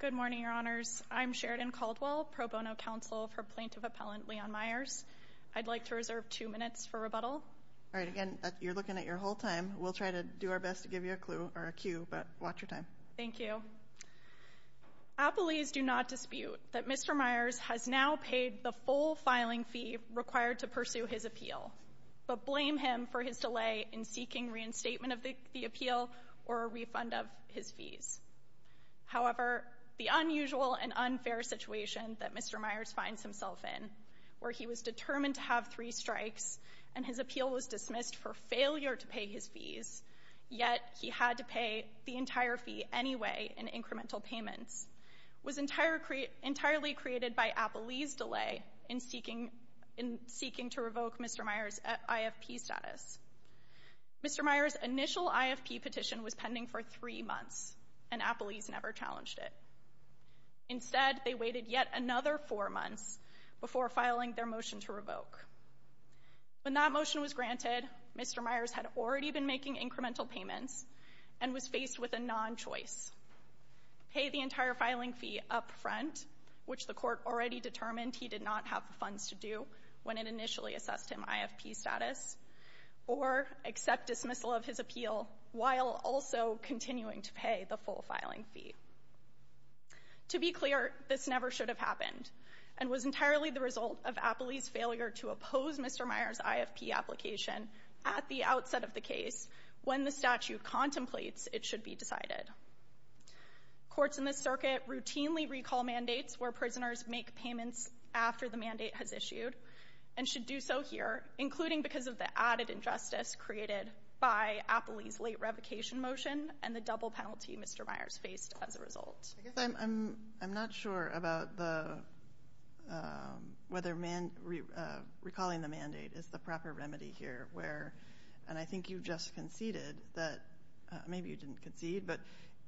Good morning, your honors. I'm Sheridan Caldwell, pro bono counsel for plaintiff appellant Leon Myers. I'd like to reserve two minutes for rebuttal. All right, again, you're looking at your whole time. We'll try to do our best to give you a clue or a cue, but watch your time. Thank you. Appellees do not dispute that Mr. Myers has now paid the full filing fee required to pursue his appeal, but blame him for his delay in seeking reinstatement of the appeal or a refund of his fees. However, the unusual and unfair situation that Mr. Myers finds himself in, where he was determined to have three strikes and his appeal was dismissed for failure to pay his fees, yet he had to pay the entire fee anyway in incremental payments, was entirely created by appellee's delay in seeking to revoke Mr. Myers' IFP status. Mr. Myers' initial IFP petition was pending for three months, and appellees never challenged it. Instead, they waited yet another four months before filing their motion to revoke. When that motion was granted, Mr. Myers had already been making incremental payments and was faced with a non-choice. Pay the entire filing fee up front, which the court already determined he did not have the funds to do when it initially assessed him IFP status, or accept dismissal of his appeal while also continuing to pay the full filing fee. To be clear, this never should have happened and was entirely the result of appellee's failure to oppose Mr. Myers' IFP application at the outset of the case when the statute contemplates it should be decided. Courts in this circuit routinely recall mandates where prisoners make payments after the mandate has issued and should do so here, including because of the added injustice created by appellee's late revocation motion and the double penalty Mr. Myers faced as a result. I guess I'm not sure about whether recalling the mandate is the proper remedy here, and I think you just conceded that — maybe you didn't concede, but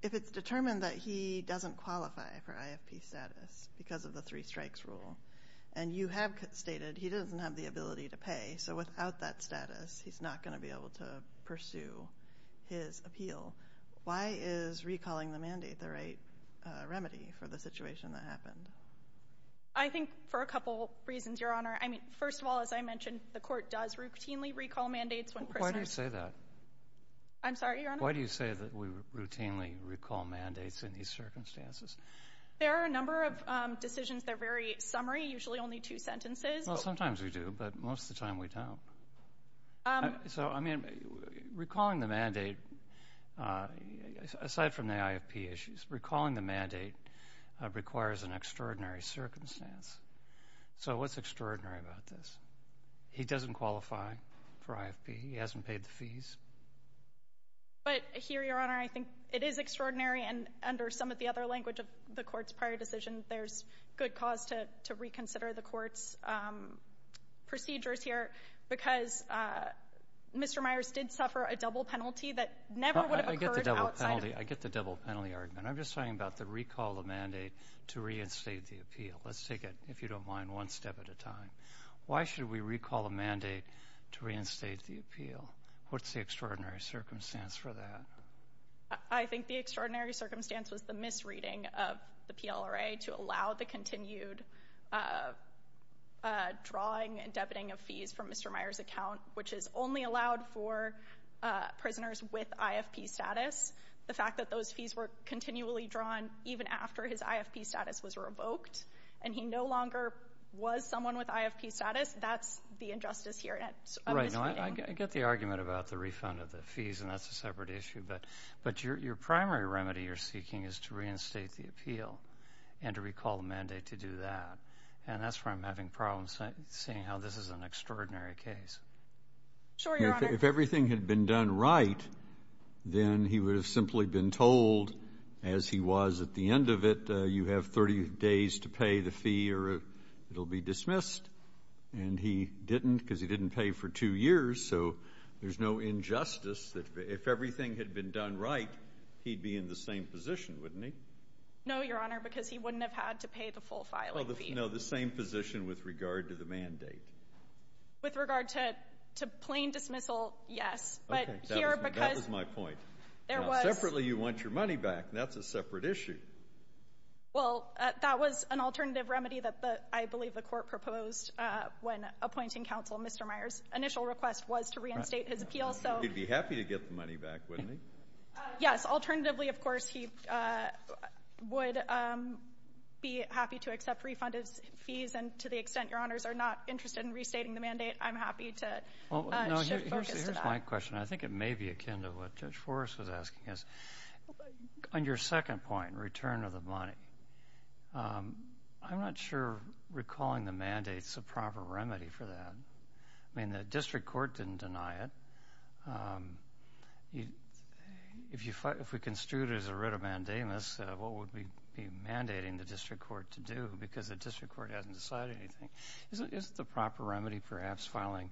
if it's determined that he doesn't qualify for IFP status because of the three-strikes rule, and you have stated he doesn't have the ability to pay, so without that status, he's not going to be able to pursue his appeal, why is recalling the mandate the right remedy for the situation that happened? I think for a couple reasons, Your Honor. I mean, first of all, as I mentioned, the Why do you say that? I'm sorry, Your Honor? Why do you say that we routinely recall mandates in these circumstances? There are a number of decisions that are very summary, usually only two sentences. Well, sometimes we do, but most of the time we don't. So, I mean, recalling the mandate, aside from the IFP issues, recalling the mandate requires an extraordinary circumstance. So But, here, Your Honor, I think it is extraordinary, and under some of the other language of the Court's prior decision, there's good cause to reconsider the Court's procedures here because Mr. Myers did suffer a double penalty that never would have occurred outside of I get the double penalty argument. I'm just talking about the recall the mandate to reinstate the appeal. Let's take it, if you don't mind, one step at a time. Why should we recall a What's the extraordinary circumstance for that? I think the extraordinary circumstance was the misreading of the PLRA to allow the continued drawing and debiting of fees from Mr. Myers' account, which is only allowed for prisoners with IFP status. The fact that those fees were continually drawn even after his IFP status was revoked, and he no longer was someone with IFP status, that's the injustice here at this hearing. I get the argument about the refund of the fees, and that's a separate issue, but your primary remedy you're seeking is to reinstate the appeal and to recall the mandate to do that, and that's where I'm having problems seeing how this is an extraordinary case. Sure, Your Honor. If everything had been done right, then he would have simply been told, as he was at the end of it, you have 30 days to pay the fee or it'll be dismissed, and he didn't because he didn't pay for two years, so there's no injustice that if everything had been done right, he'd be in the same position, wouldn't he? No, Your Honor, because he wouldn't have had to pay the full filing fee. No, the same position with regard to the mandate. With regard to plain dismissal, yes, but here because That was my point. There was Separately, you want your money back. That's a separate issue. Well, that was an alternative remedy that I believe the Court proposed when appointing counsel. Mr. Meyer's initial request was to reinstate his appeal, so He'd be happy to get the money back, wouldn't he? Yes. Alternatively, of course, he would be happy to accept refunded fees, and to the extent Your Honors are not interested in restating the mandate, I'm happy to shift focus to that. Well, no, here's my question. I think it may be akin to what Judge Forrest was asking us. On your second point, return of the money, I'm not sure recalling the mandate's a proper remedy for that. I mean, the District Court didn't deny it. If we construed it as a writ of mandamus, what would we be mandating the District Court to do because the District Court hasn't decided anything? Is it the proper remedy, perhaps, filing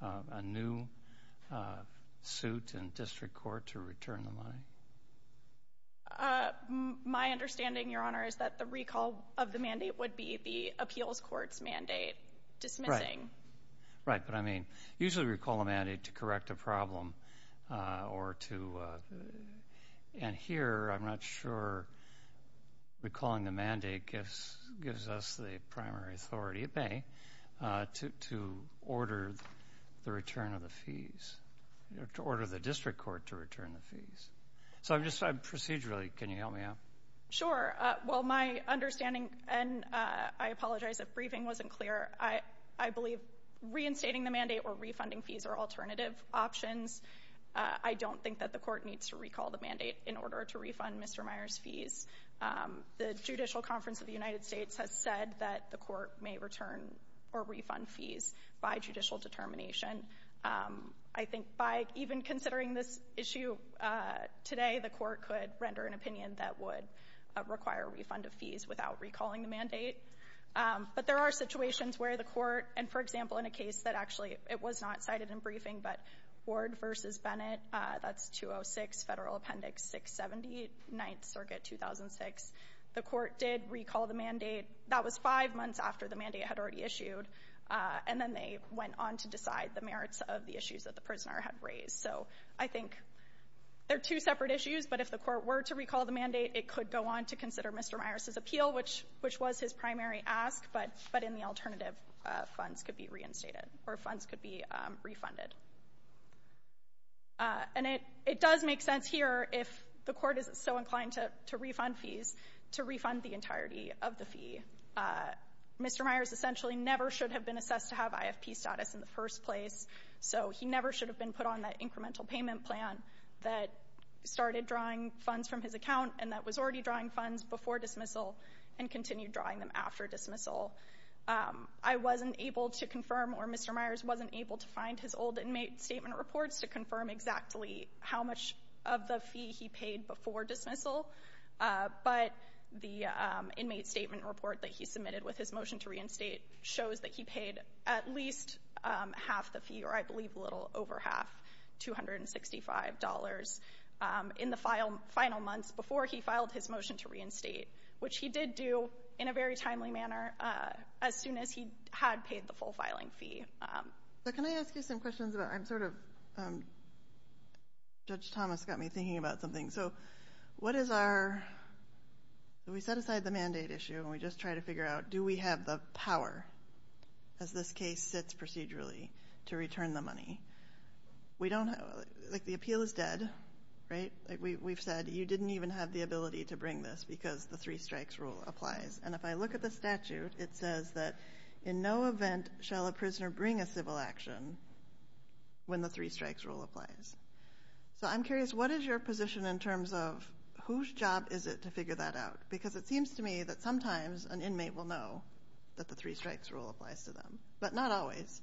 a new suit in District Court to return the money? My understanding, Your Honor, is that the recall of the mandate would be the appeals court's mandate dismissing. Right, but I mean, usually we recall a mandate to correct a problem or to, and here I'm not sure recalling the mandate gives us the primary authority, it may, to order the return of the fees, to order the District Court to return the fees. So procedurally, can you help me out? Sure. Well, my understanding, and I apologize if briefing wasn't clear, I believe reinstating the mandate or refunding fees are alternative options. I don't think that the court needs to recall the mandate in order to refund Mr. Meyer's fees. The Judicial Conference of the United States has said that the court may return or refund fees by judicial determination. I think by even considering this issue today, the court could render an opinion that would require refund of fees without recalling the mandate. But there are situations where the court, and for example, in a case that actually, it was not cited in briefing, but Ward v. Bennett, that's 206 Federal Appendix 670, 9th Circuit, 2006, the court did recall the mandate. That was five months after the mandate had already issued, and then they went on to decide the merits of the issues that the prisoner had raised. So I think they're two separate issues, but if the court were to recall the mandate, it could go on to consider Mr. Meyer's appeal, which was his primary ask, but in the alternative, funds could be reinstated or funds could be refunded. And it does make sense here, if the court is so inclined to refund fees, to refund the entirety of the fee. Mr. Meyer's essentially never should have been assessed to have IFP status in the first place, so he never should have been put on that incremental payment plan that started drawing funds from his account and that was already drawing funds before dismissal and continued drawing them after dismissal. I wasn't able to confirm, or Mr. Meyer's wasn't able to find his old inmate statement reports to confirm exactly how much of the fee he paid before dismissal, but the inmate statement report that he submitted with his motion to reinstate shows that he paid at least half the fee, or I believe a little over half, $265 in the final months before he filed his motion to reinstate, which he did do in a very timely manner as soon as he had paid the full filing fee. So can I ask you some questions about, I'm sort of, Judge Thomas got me thinking about something. So what is our, we set aside the mandate issue and we just try to figure out, do we have the power, as this case sits procedurally, to return the money? We don't have, like the appeal is dead, right? We've said you didn't even have the ability to bring this because the three strikes rule applies. And if I look at the statute, it says that in no event shall a prisoner bring a civil action when the three strikes rule applies. So I'm curious, what is your position in terms of whose job is it to figure that out? Because it seems to me that sometimes an inmate will know that the three strikes rule applies to them, but not always.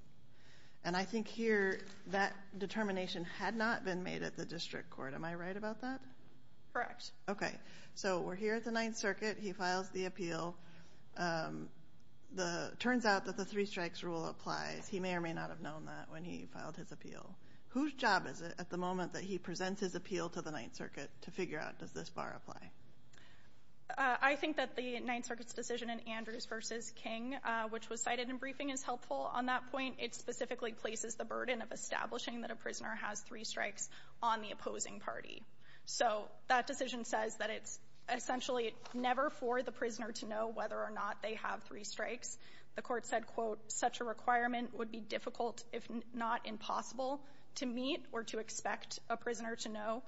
And I think here that determination had not been made at the district court, am I right about that? Correct. Okay. So we're here at the Ninth Circuit, he files the appeal, turns out that the three strikes rule applies. He may or may not have known that when he filed his appeal. Whose job is it at the moment that he presents his appeal to the Ninth Circuit to figure out does this bar apply? I think that the Ninth Circuit's decision in Andrews v. King, which was cited in briefing, is helpful on that point. It specifically places the burden of establishing that a prisoner has three strikes on the opposing party. So that decision says that it's essentially never for the prisoner to know whether or not they have three strikes. The court said, quote, such a requirement would be difficult if not impossible to meet or to expect a prisoner to know.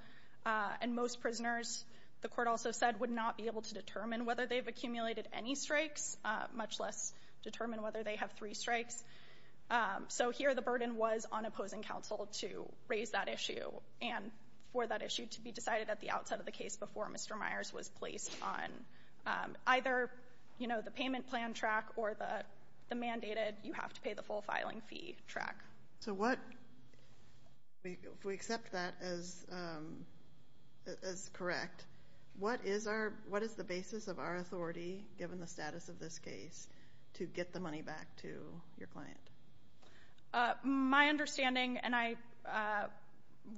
And most prisoners, the court also said, would not be able to determine whether they've accumulated any strikes, much less determine whether they have three strikes. So here the burden was on opposing counsel to raise that issue and for that issue to be decided at the outset of the case before Mr. Myers was placed on either, you know, the payment plan track or the mandated you have to pay the full filing fee track. So what, if we accept that as correct, what is our, what is the basis of our authority given the status of this case to get the money back to your client? My understanding, and I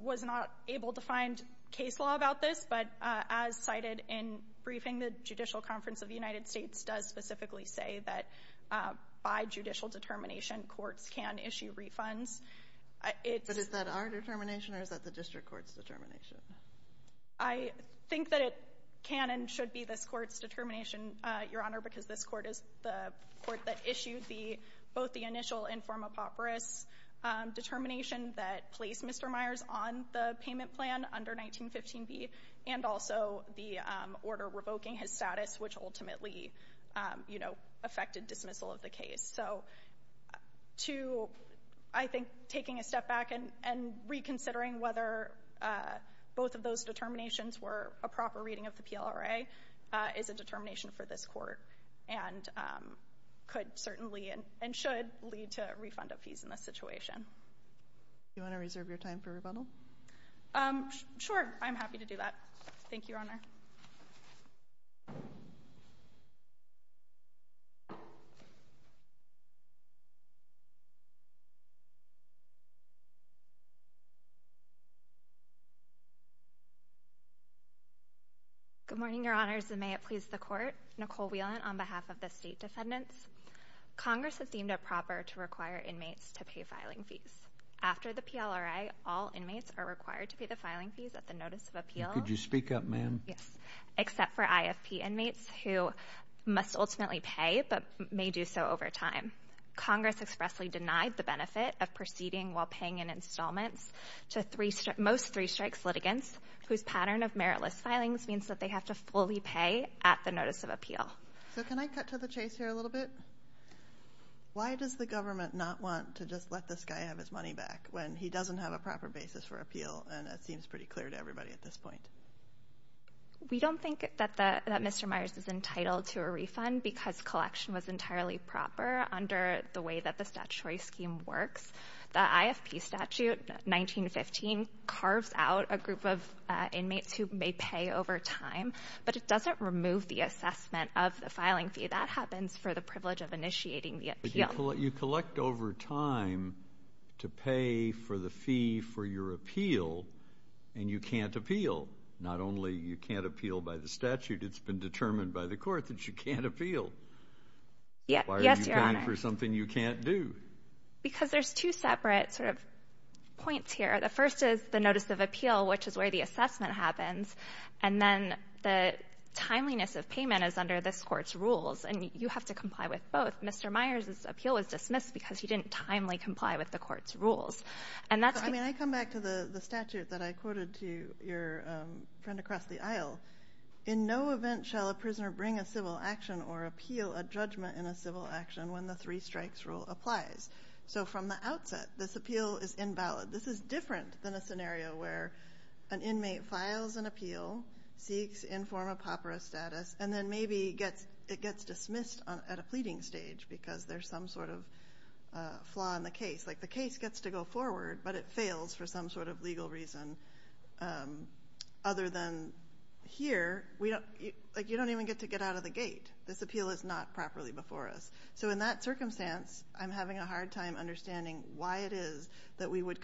was not able to find case law about this, but as cited in briefing, the Judicial Conference of the United States does specifically say that by judicial determination courts can issue refunds. But is that our determination or is that the district court's determination? I think that it can and should be this court's determination, Your Honor, because this court is the court that issued the, both the initial inform-a-papyrus determination that placed Mr. Myers on the payment plan under 1915b and also the order revoking his status, which ultimately, you know, affected dismissal of the case. So to, I think, taking a step back and reconsidering whether both of those determinations were a proper reading of the PLRA is a determination for this court and could certainly and should lead to refund of fees in this situation. Do you want to reserve your time for rebuttal? Sure. Thank you, Your Honor. Good morning, Your Honors, and may it please the court. Nicole Whelan on behalf of the State Defendants. Congress has deemed it proper to require inmates to pay filing fees. After the PLRA, all inmates are required to pay the filing fees at the notice of appeal. Could you speak up, ma'am? Yes, except for IFP inmates who must ultimately pay but may do so over time. Congress expressly denied the benefit of proceeding while paying in installments to most three-strikes litigants whose pattern of meritless filings means that they have to fully pay at the notice of appeal. So can I cut to the chase here a little bit? Why does the government not want to just let this guy have his money back when he doesn't have a proper basis for appeal? And that seems pretty clear to everybody at this point. We don't think that Mr. Myers is entitled to a refund because collection was entirely proper under the way that the statutory scheme works. The IFP statute, 1915, carves out a group of inmates who may pay over time, but it doesn't remove the assessment of the filing fee. That happens for the privilege of initiating the appeal. You collect over time to pay for the fee for your appeal, and you can't appeal. Not only you can't appeal by the statute, it's been determined by the court that you can't appeal. Yes, Your Honor. Why are you paying for something you can't do? Because there's two separate sort of points here. The first is the notice of appeal, which is where the assessment happens. And then the timeliness of payment is under this court's rules, and you have to comply with both. So Mr. Myers' appeal is dismissed because he didn't timely comply with the court's rules. And that's... I mean, I come back to the statute that I quoted to your friend across the aisle. In no event shall a prisoner bring a civil action or appeal a judgment in a civil action when the three-strikes rule applies. So from the outset, this appeal is invalid. This is different than a scenario where an inmate files an appeal, seeks informed apopry status, and then maybe it gets dismissed at a pleading stage because there's some sort of flaw in the case. Like the case gets to go forward, but it fails for some sort of legal reason other than here, you don't even get to get out of the gate. This appeal is not properly before us. So in that circumstance, I'm having a hard time understanding why it is that we would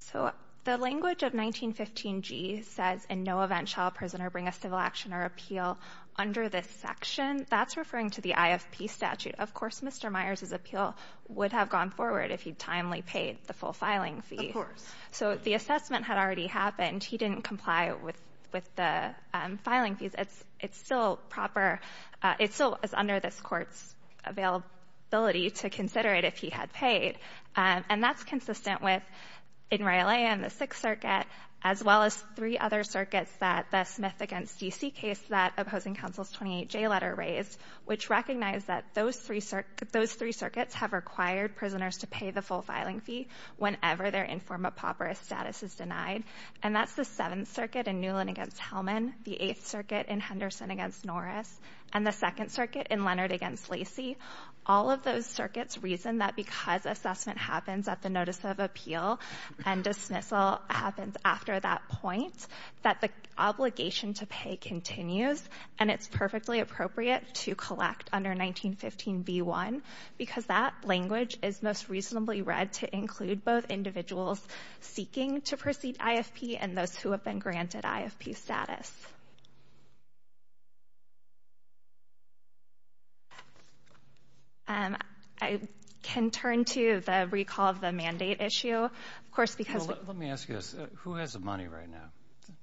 So the language of 1915g says, in no event shall a prisoner bring a civil action or appeal under this section. That's referring to the IFP statute. Of course, Mr. Myers' appeal would have gone forward if he'd timely paid the full filing fee. Of course. So the assessment had already happened. He didn't comply with the filing fees. It's still proper. It still is under this Court's availability to consider it if he had paid. And that's consistent with in Raleigh and the Sixth Circuit, as well as three other circuits that the Smith v. DC case that opposing counsel's 28J letter raised, which recognized that those three circuits have required prisoners to pay the full filing fee whenever their informed apopry status is denied. And that's the Seventh Circuit in Newland v. Hellman, the Eighth Circuit in Henderson v. Norris, and the Second Circuit in Leonard v. Lacey. All of those circuits reason that because assessment happens at the notice of appeal and dismissal happens after that point, that the obligation to pay continues, and it's perfectly appropriate to collect under 1915b1, because that language is most reasonably read to include both individuals seeking to proceed IFP and those who have been granted IFP status. I can turn to the recall of the mandate issue, of course, because... Well, let me ask you this. Who has the money right now?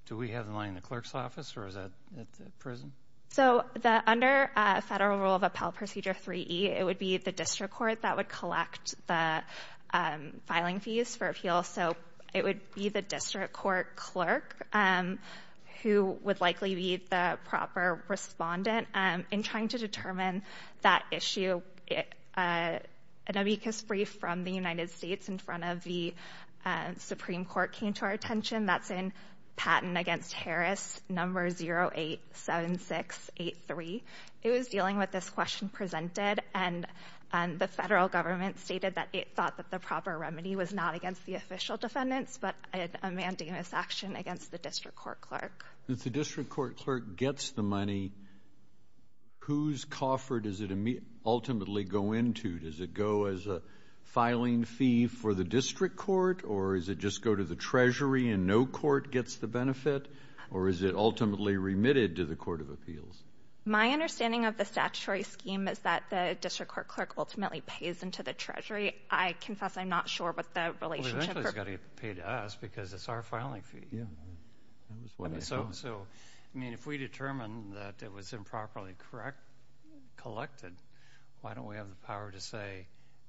Do we have the money in the clerk's office, or is that at the prison? So under Federal Rule of Appellate Procedure 3E, it would be the district court that would collect the filing fees for appeal. Also, it would be the district court clerk, who would likely be the proper respondent. In trying to determine that issue, an amicus brief from the United States in front of the Supreme Court came to our attention. That's in Patent Against Harris, No. 087683. It was dealing with this question presented, and the federal government stated that it remedy was not against the official defendants, but a mandamus action against the district court clerk. If the district court clerk gets the money, whose coffer does it ultimately go into? Does it go as a filing fee for the district court, or does it just go to the Treasury and no court gets the benefit, or is it ultimately remitted to the court of appeals? My understanding of the statutory scheme is that the district court clerk ultimately pays into the Treasury. I confess I'm not sure what the relationship is. Well, eventually it's got to get paid to us because it's our filing fee. Yeah. That was what I thought. So, I mean, if we determine that it was improperly collected, why don't we have the power to say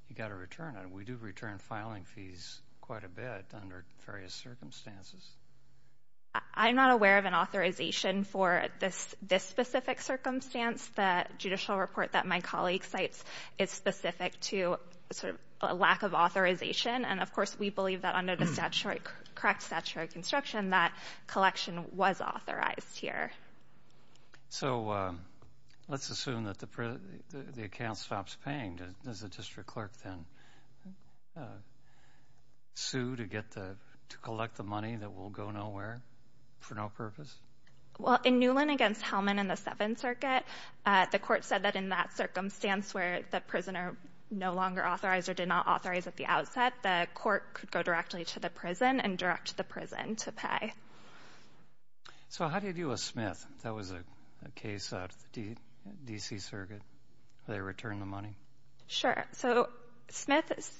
you've got to return it? We do return filing fees quite a bit under various circumstances. I'm not aware of an authorization for this specific circumstance, the judicial report that my colleague cites is specific to a lack of authorization, and of course we believe that under the correct statutory construction, that collection was authorized here. So let's assume that the account stops paying. Does the district clerk then sue to collect the money that will go nowhere for no purpose? Well, in Newland against Hellman in the Seventh Circuit, the court said that in that circumstance where the prisoner no longer authorized or did not authorize at the outset, the court could go directly to the prison and direct the prison to pay. So how do you deal with Smith? That was a case out of the D.C. Circuit. Will they return the money? Sure. So Smith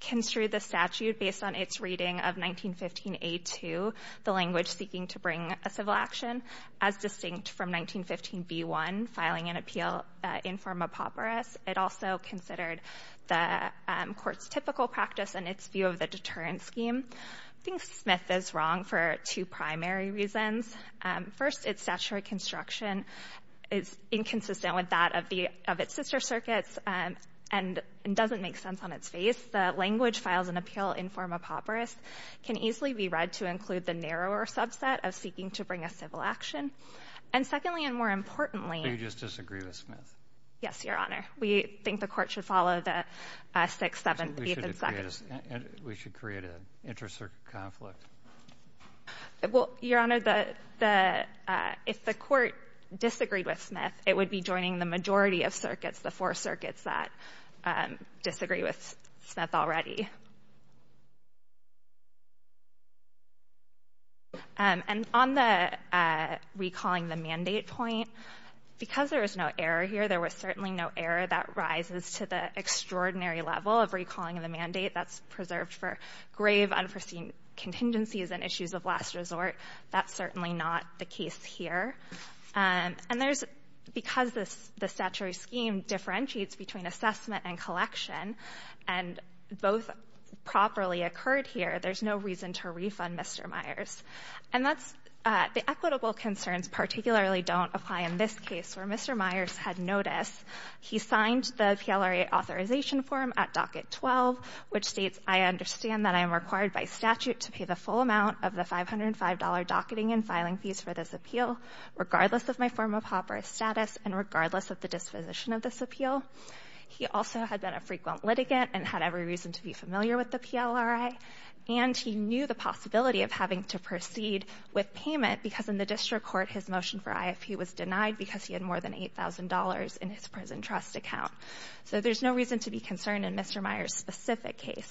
construed the statute based on its reading of 1915a2, the language seeking to bring a civil action, as distinct from 1915b1, filing an appeal in form apoperis. It also considered the Court's typical practice in its view of the deterrent scheme. I think Smith is wrong for two primary reasons. First, its statutory construction is inconsistent with that of the — of its sister circuits and doesn't make sense on its face. The language files an appeal in form apoperis can easily be read to include the narrower subset of seeking to bring a civil action. And secondly, and more importantly — So you just disagree with Smith? Yes, Your Honor. We think the Court should follow the 6th, 7th, 8th, and 2nd. We should create an inter-circuit conflict. Well, Your Honor, the — if the Court disagreed with Smith, it would be joining the majority of circuits, the four circuits that disagree with Smith already. And on the recalling the mandate point, because there is no error here, there was certainly no error that rises to the extraordinary level of recalling the mandate that's preserved for grave unforeseen contingencies and issues of last resort. That's certainly not the case here. And there's — because the statutory scheme differentiates between assessment and collection, and both properly occurred here, there's no reason to refund Mr. Myers. And that's — the equitable concerns particularly don't apply in this case, where Mr. Myers had notice. He signed the PLRA authorization form at Docket 12, which states, I understand that I am required by statute to pay the full amount of the $505 docketing and filing fees for this appeal, regardless of my form apoperis status and regardless of the disposition of this appeal. He also had been a frequent litigant and had every reason to be familiar with the PLRA. And he knew the possibility of having to proceed with payment, because in the district court his motion for IFP was denied because he had more than $8,000 in his prison trust account. So there's no reason to be concerned in Mr. Myers' specific case.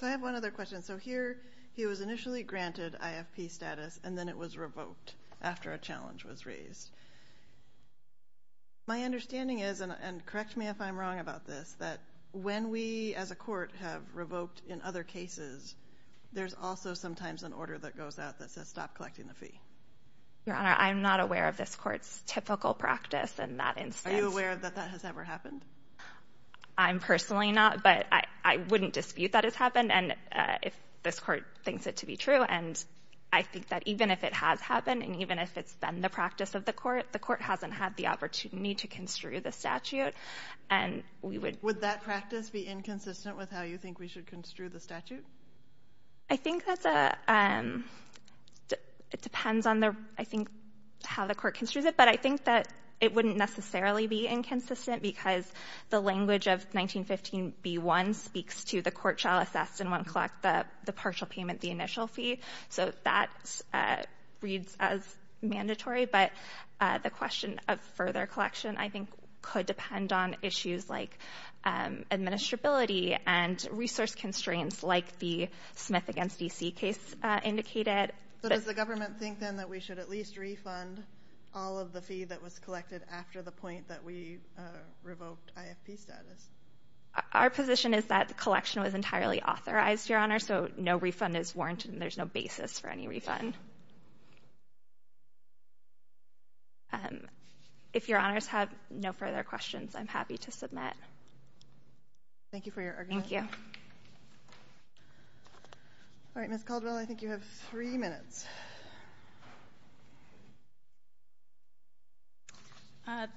So I have one other question. So here he was initially granted IFP status, and then it was revoked after a challenge was raised. My understanding is, and correct me if I'm wrong about this, that when we as a court have revoked in other cases, there's also sometimes an order that goes out that says stop collecting the fee. Your Honor, I'm not aware of this court's typical practice in that instance. Are you aware that that has ever happened? I'm personally not, but I wouldn't dispute that it's happened if this court thinks it to be true. And I think that even if it has happened and even if it's been the practice of the court, the court hasn't had the opportunity to construe the statute. And we would — Would that practice be inconsistent with how you think we should construe the statute? I think that's a — it depends on the — I think how the court construes it. But I think that it wouldn't necessarily be inconsistent, because the language of 1915b1 speaks to the court shall assess in one collect the partial payment, the initial fee. So that reads as mandatory. But the question of further collection I think could depend on issues like administrability and resource constraints like the Smith v. D.C. case indicated. But does the government think then that we should at least refund all of the fee that was collected after the point that we revoked IFP status? Our position is that the collection was entirely authorized, Your Honor, so no refund is warranted and there's no basis for any refund. If Your Honors have no further questions, I'm happy to submit. Thank you for your argument. Thank you. All right, Ms. Caldwell, I think you have three minutes.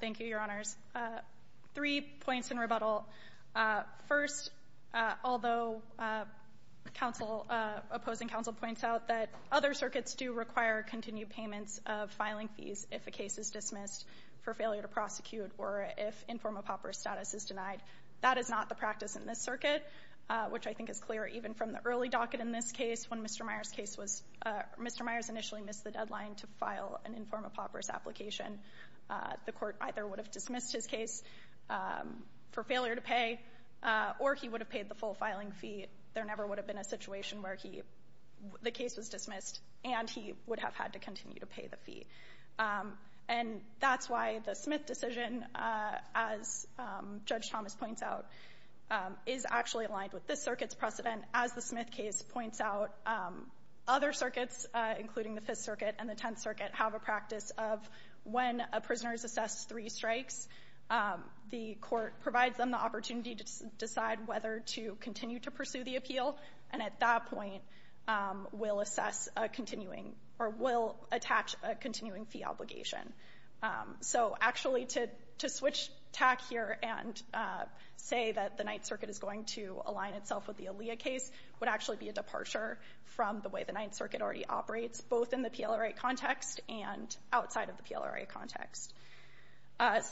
Thank you, Your Honors. Three points in rebuttal. First, although opposing counsel points out that other circuits do require continued payments of filing fees if a case is dismissed for failure to prosecute or if inform-a-pauper status is denied, that is not the practice in this circuit, which I think is clear even from the early docket in this case when Mr. Myers' case was Mr. Myers initially missed the deadline to file an inform-a-pauper application. The court either would have dismissed his case for failure to pay or he would have paid the full filing fee. There never would have been a situation where the case was dismissed and he would have had to continue to pay the fee. And that's why the Smith decision, as Judge Thomas points out, is actually aligned with this circuit's precedent. As the Smith case points out, other circuits, including the Fifth Circuit and the Tenth Circuit, have a practice of when a prisoner is assessed three strikes, the court provides them the opportunity to decide whether to continue to pursue the appeal, and at that point will assess a continuing or will attach a continuing fee obligation. So actually to switch tack here and say that the Ninth Circuit is going to align itself with the Aaliyah case would actually be a departure from the way the Aaliyah case is going to work in the PLRA context and outside of the PLRA context.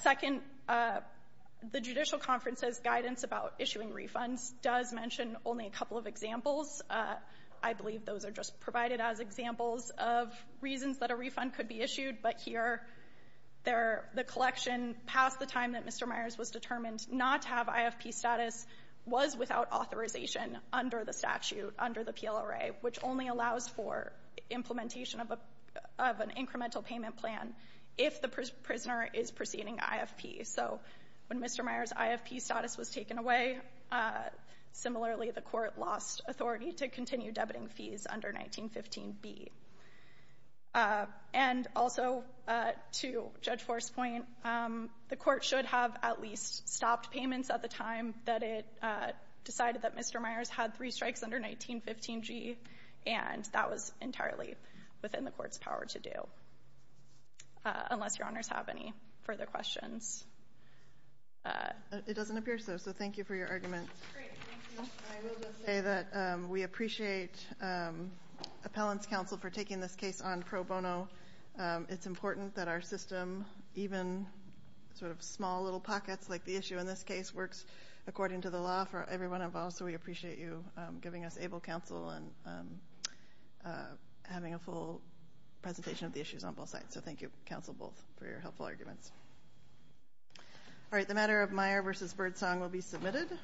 Second, the Judicial Conference's guidance about issuing refunds does mention only a couple of examples. I believe those are just provided as examples of reasons that a refund could be issued, but here the collection past the time that Mr. Myers was determined not to have IFP status was without authorization under the statute, under the PLRA, which only allows for implementation of an incremental payment plan if the prisoner is proceeding IFP. So when Mr. Myers' IFP status was taken away, similarly, the Court lost authority to continue debiting fees under 1915b. And also to Judge Forrest's point, the Court should have at least stopped payments at the time that it decided that Mr. Myers had three strikes under 1915g, and that was entirely within the Court's power to do, unless Your Honors have any further questions. It doesn't appear so, so thank you for your argument. Great. Thank you. I will just say that we appreciate Appellant's counsel for taking this case on pro bono. It's important that our system, even sort of small little pockets like the issue in this case, works according to the law for everyone involved. So we appreciate you giving us able counsel and having a full presentation of the issues on both sides. So thank you, counsel both, for your helpful arguments. All right, the matter of Myer v. Birdsong will be submitted.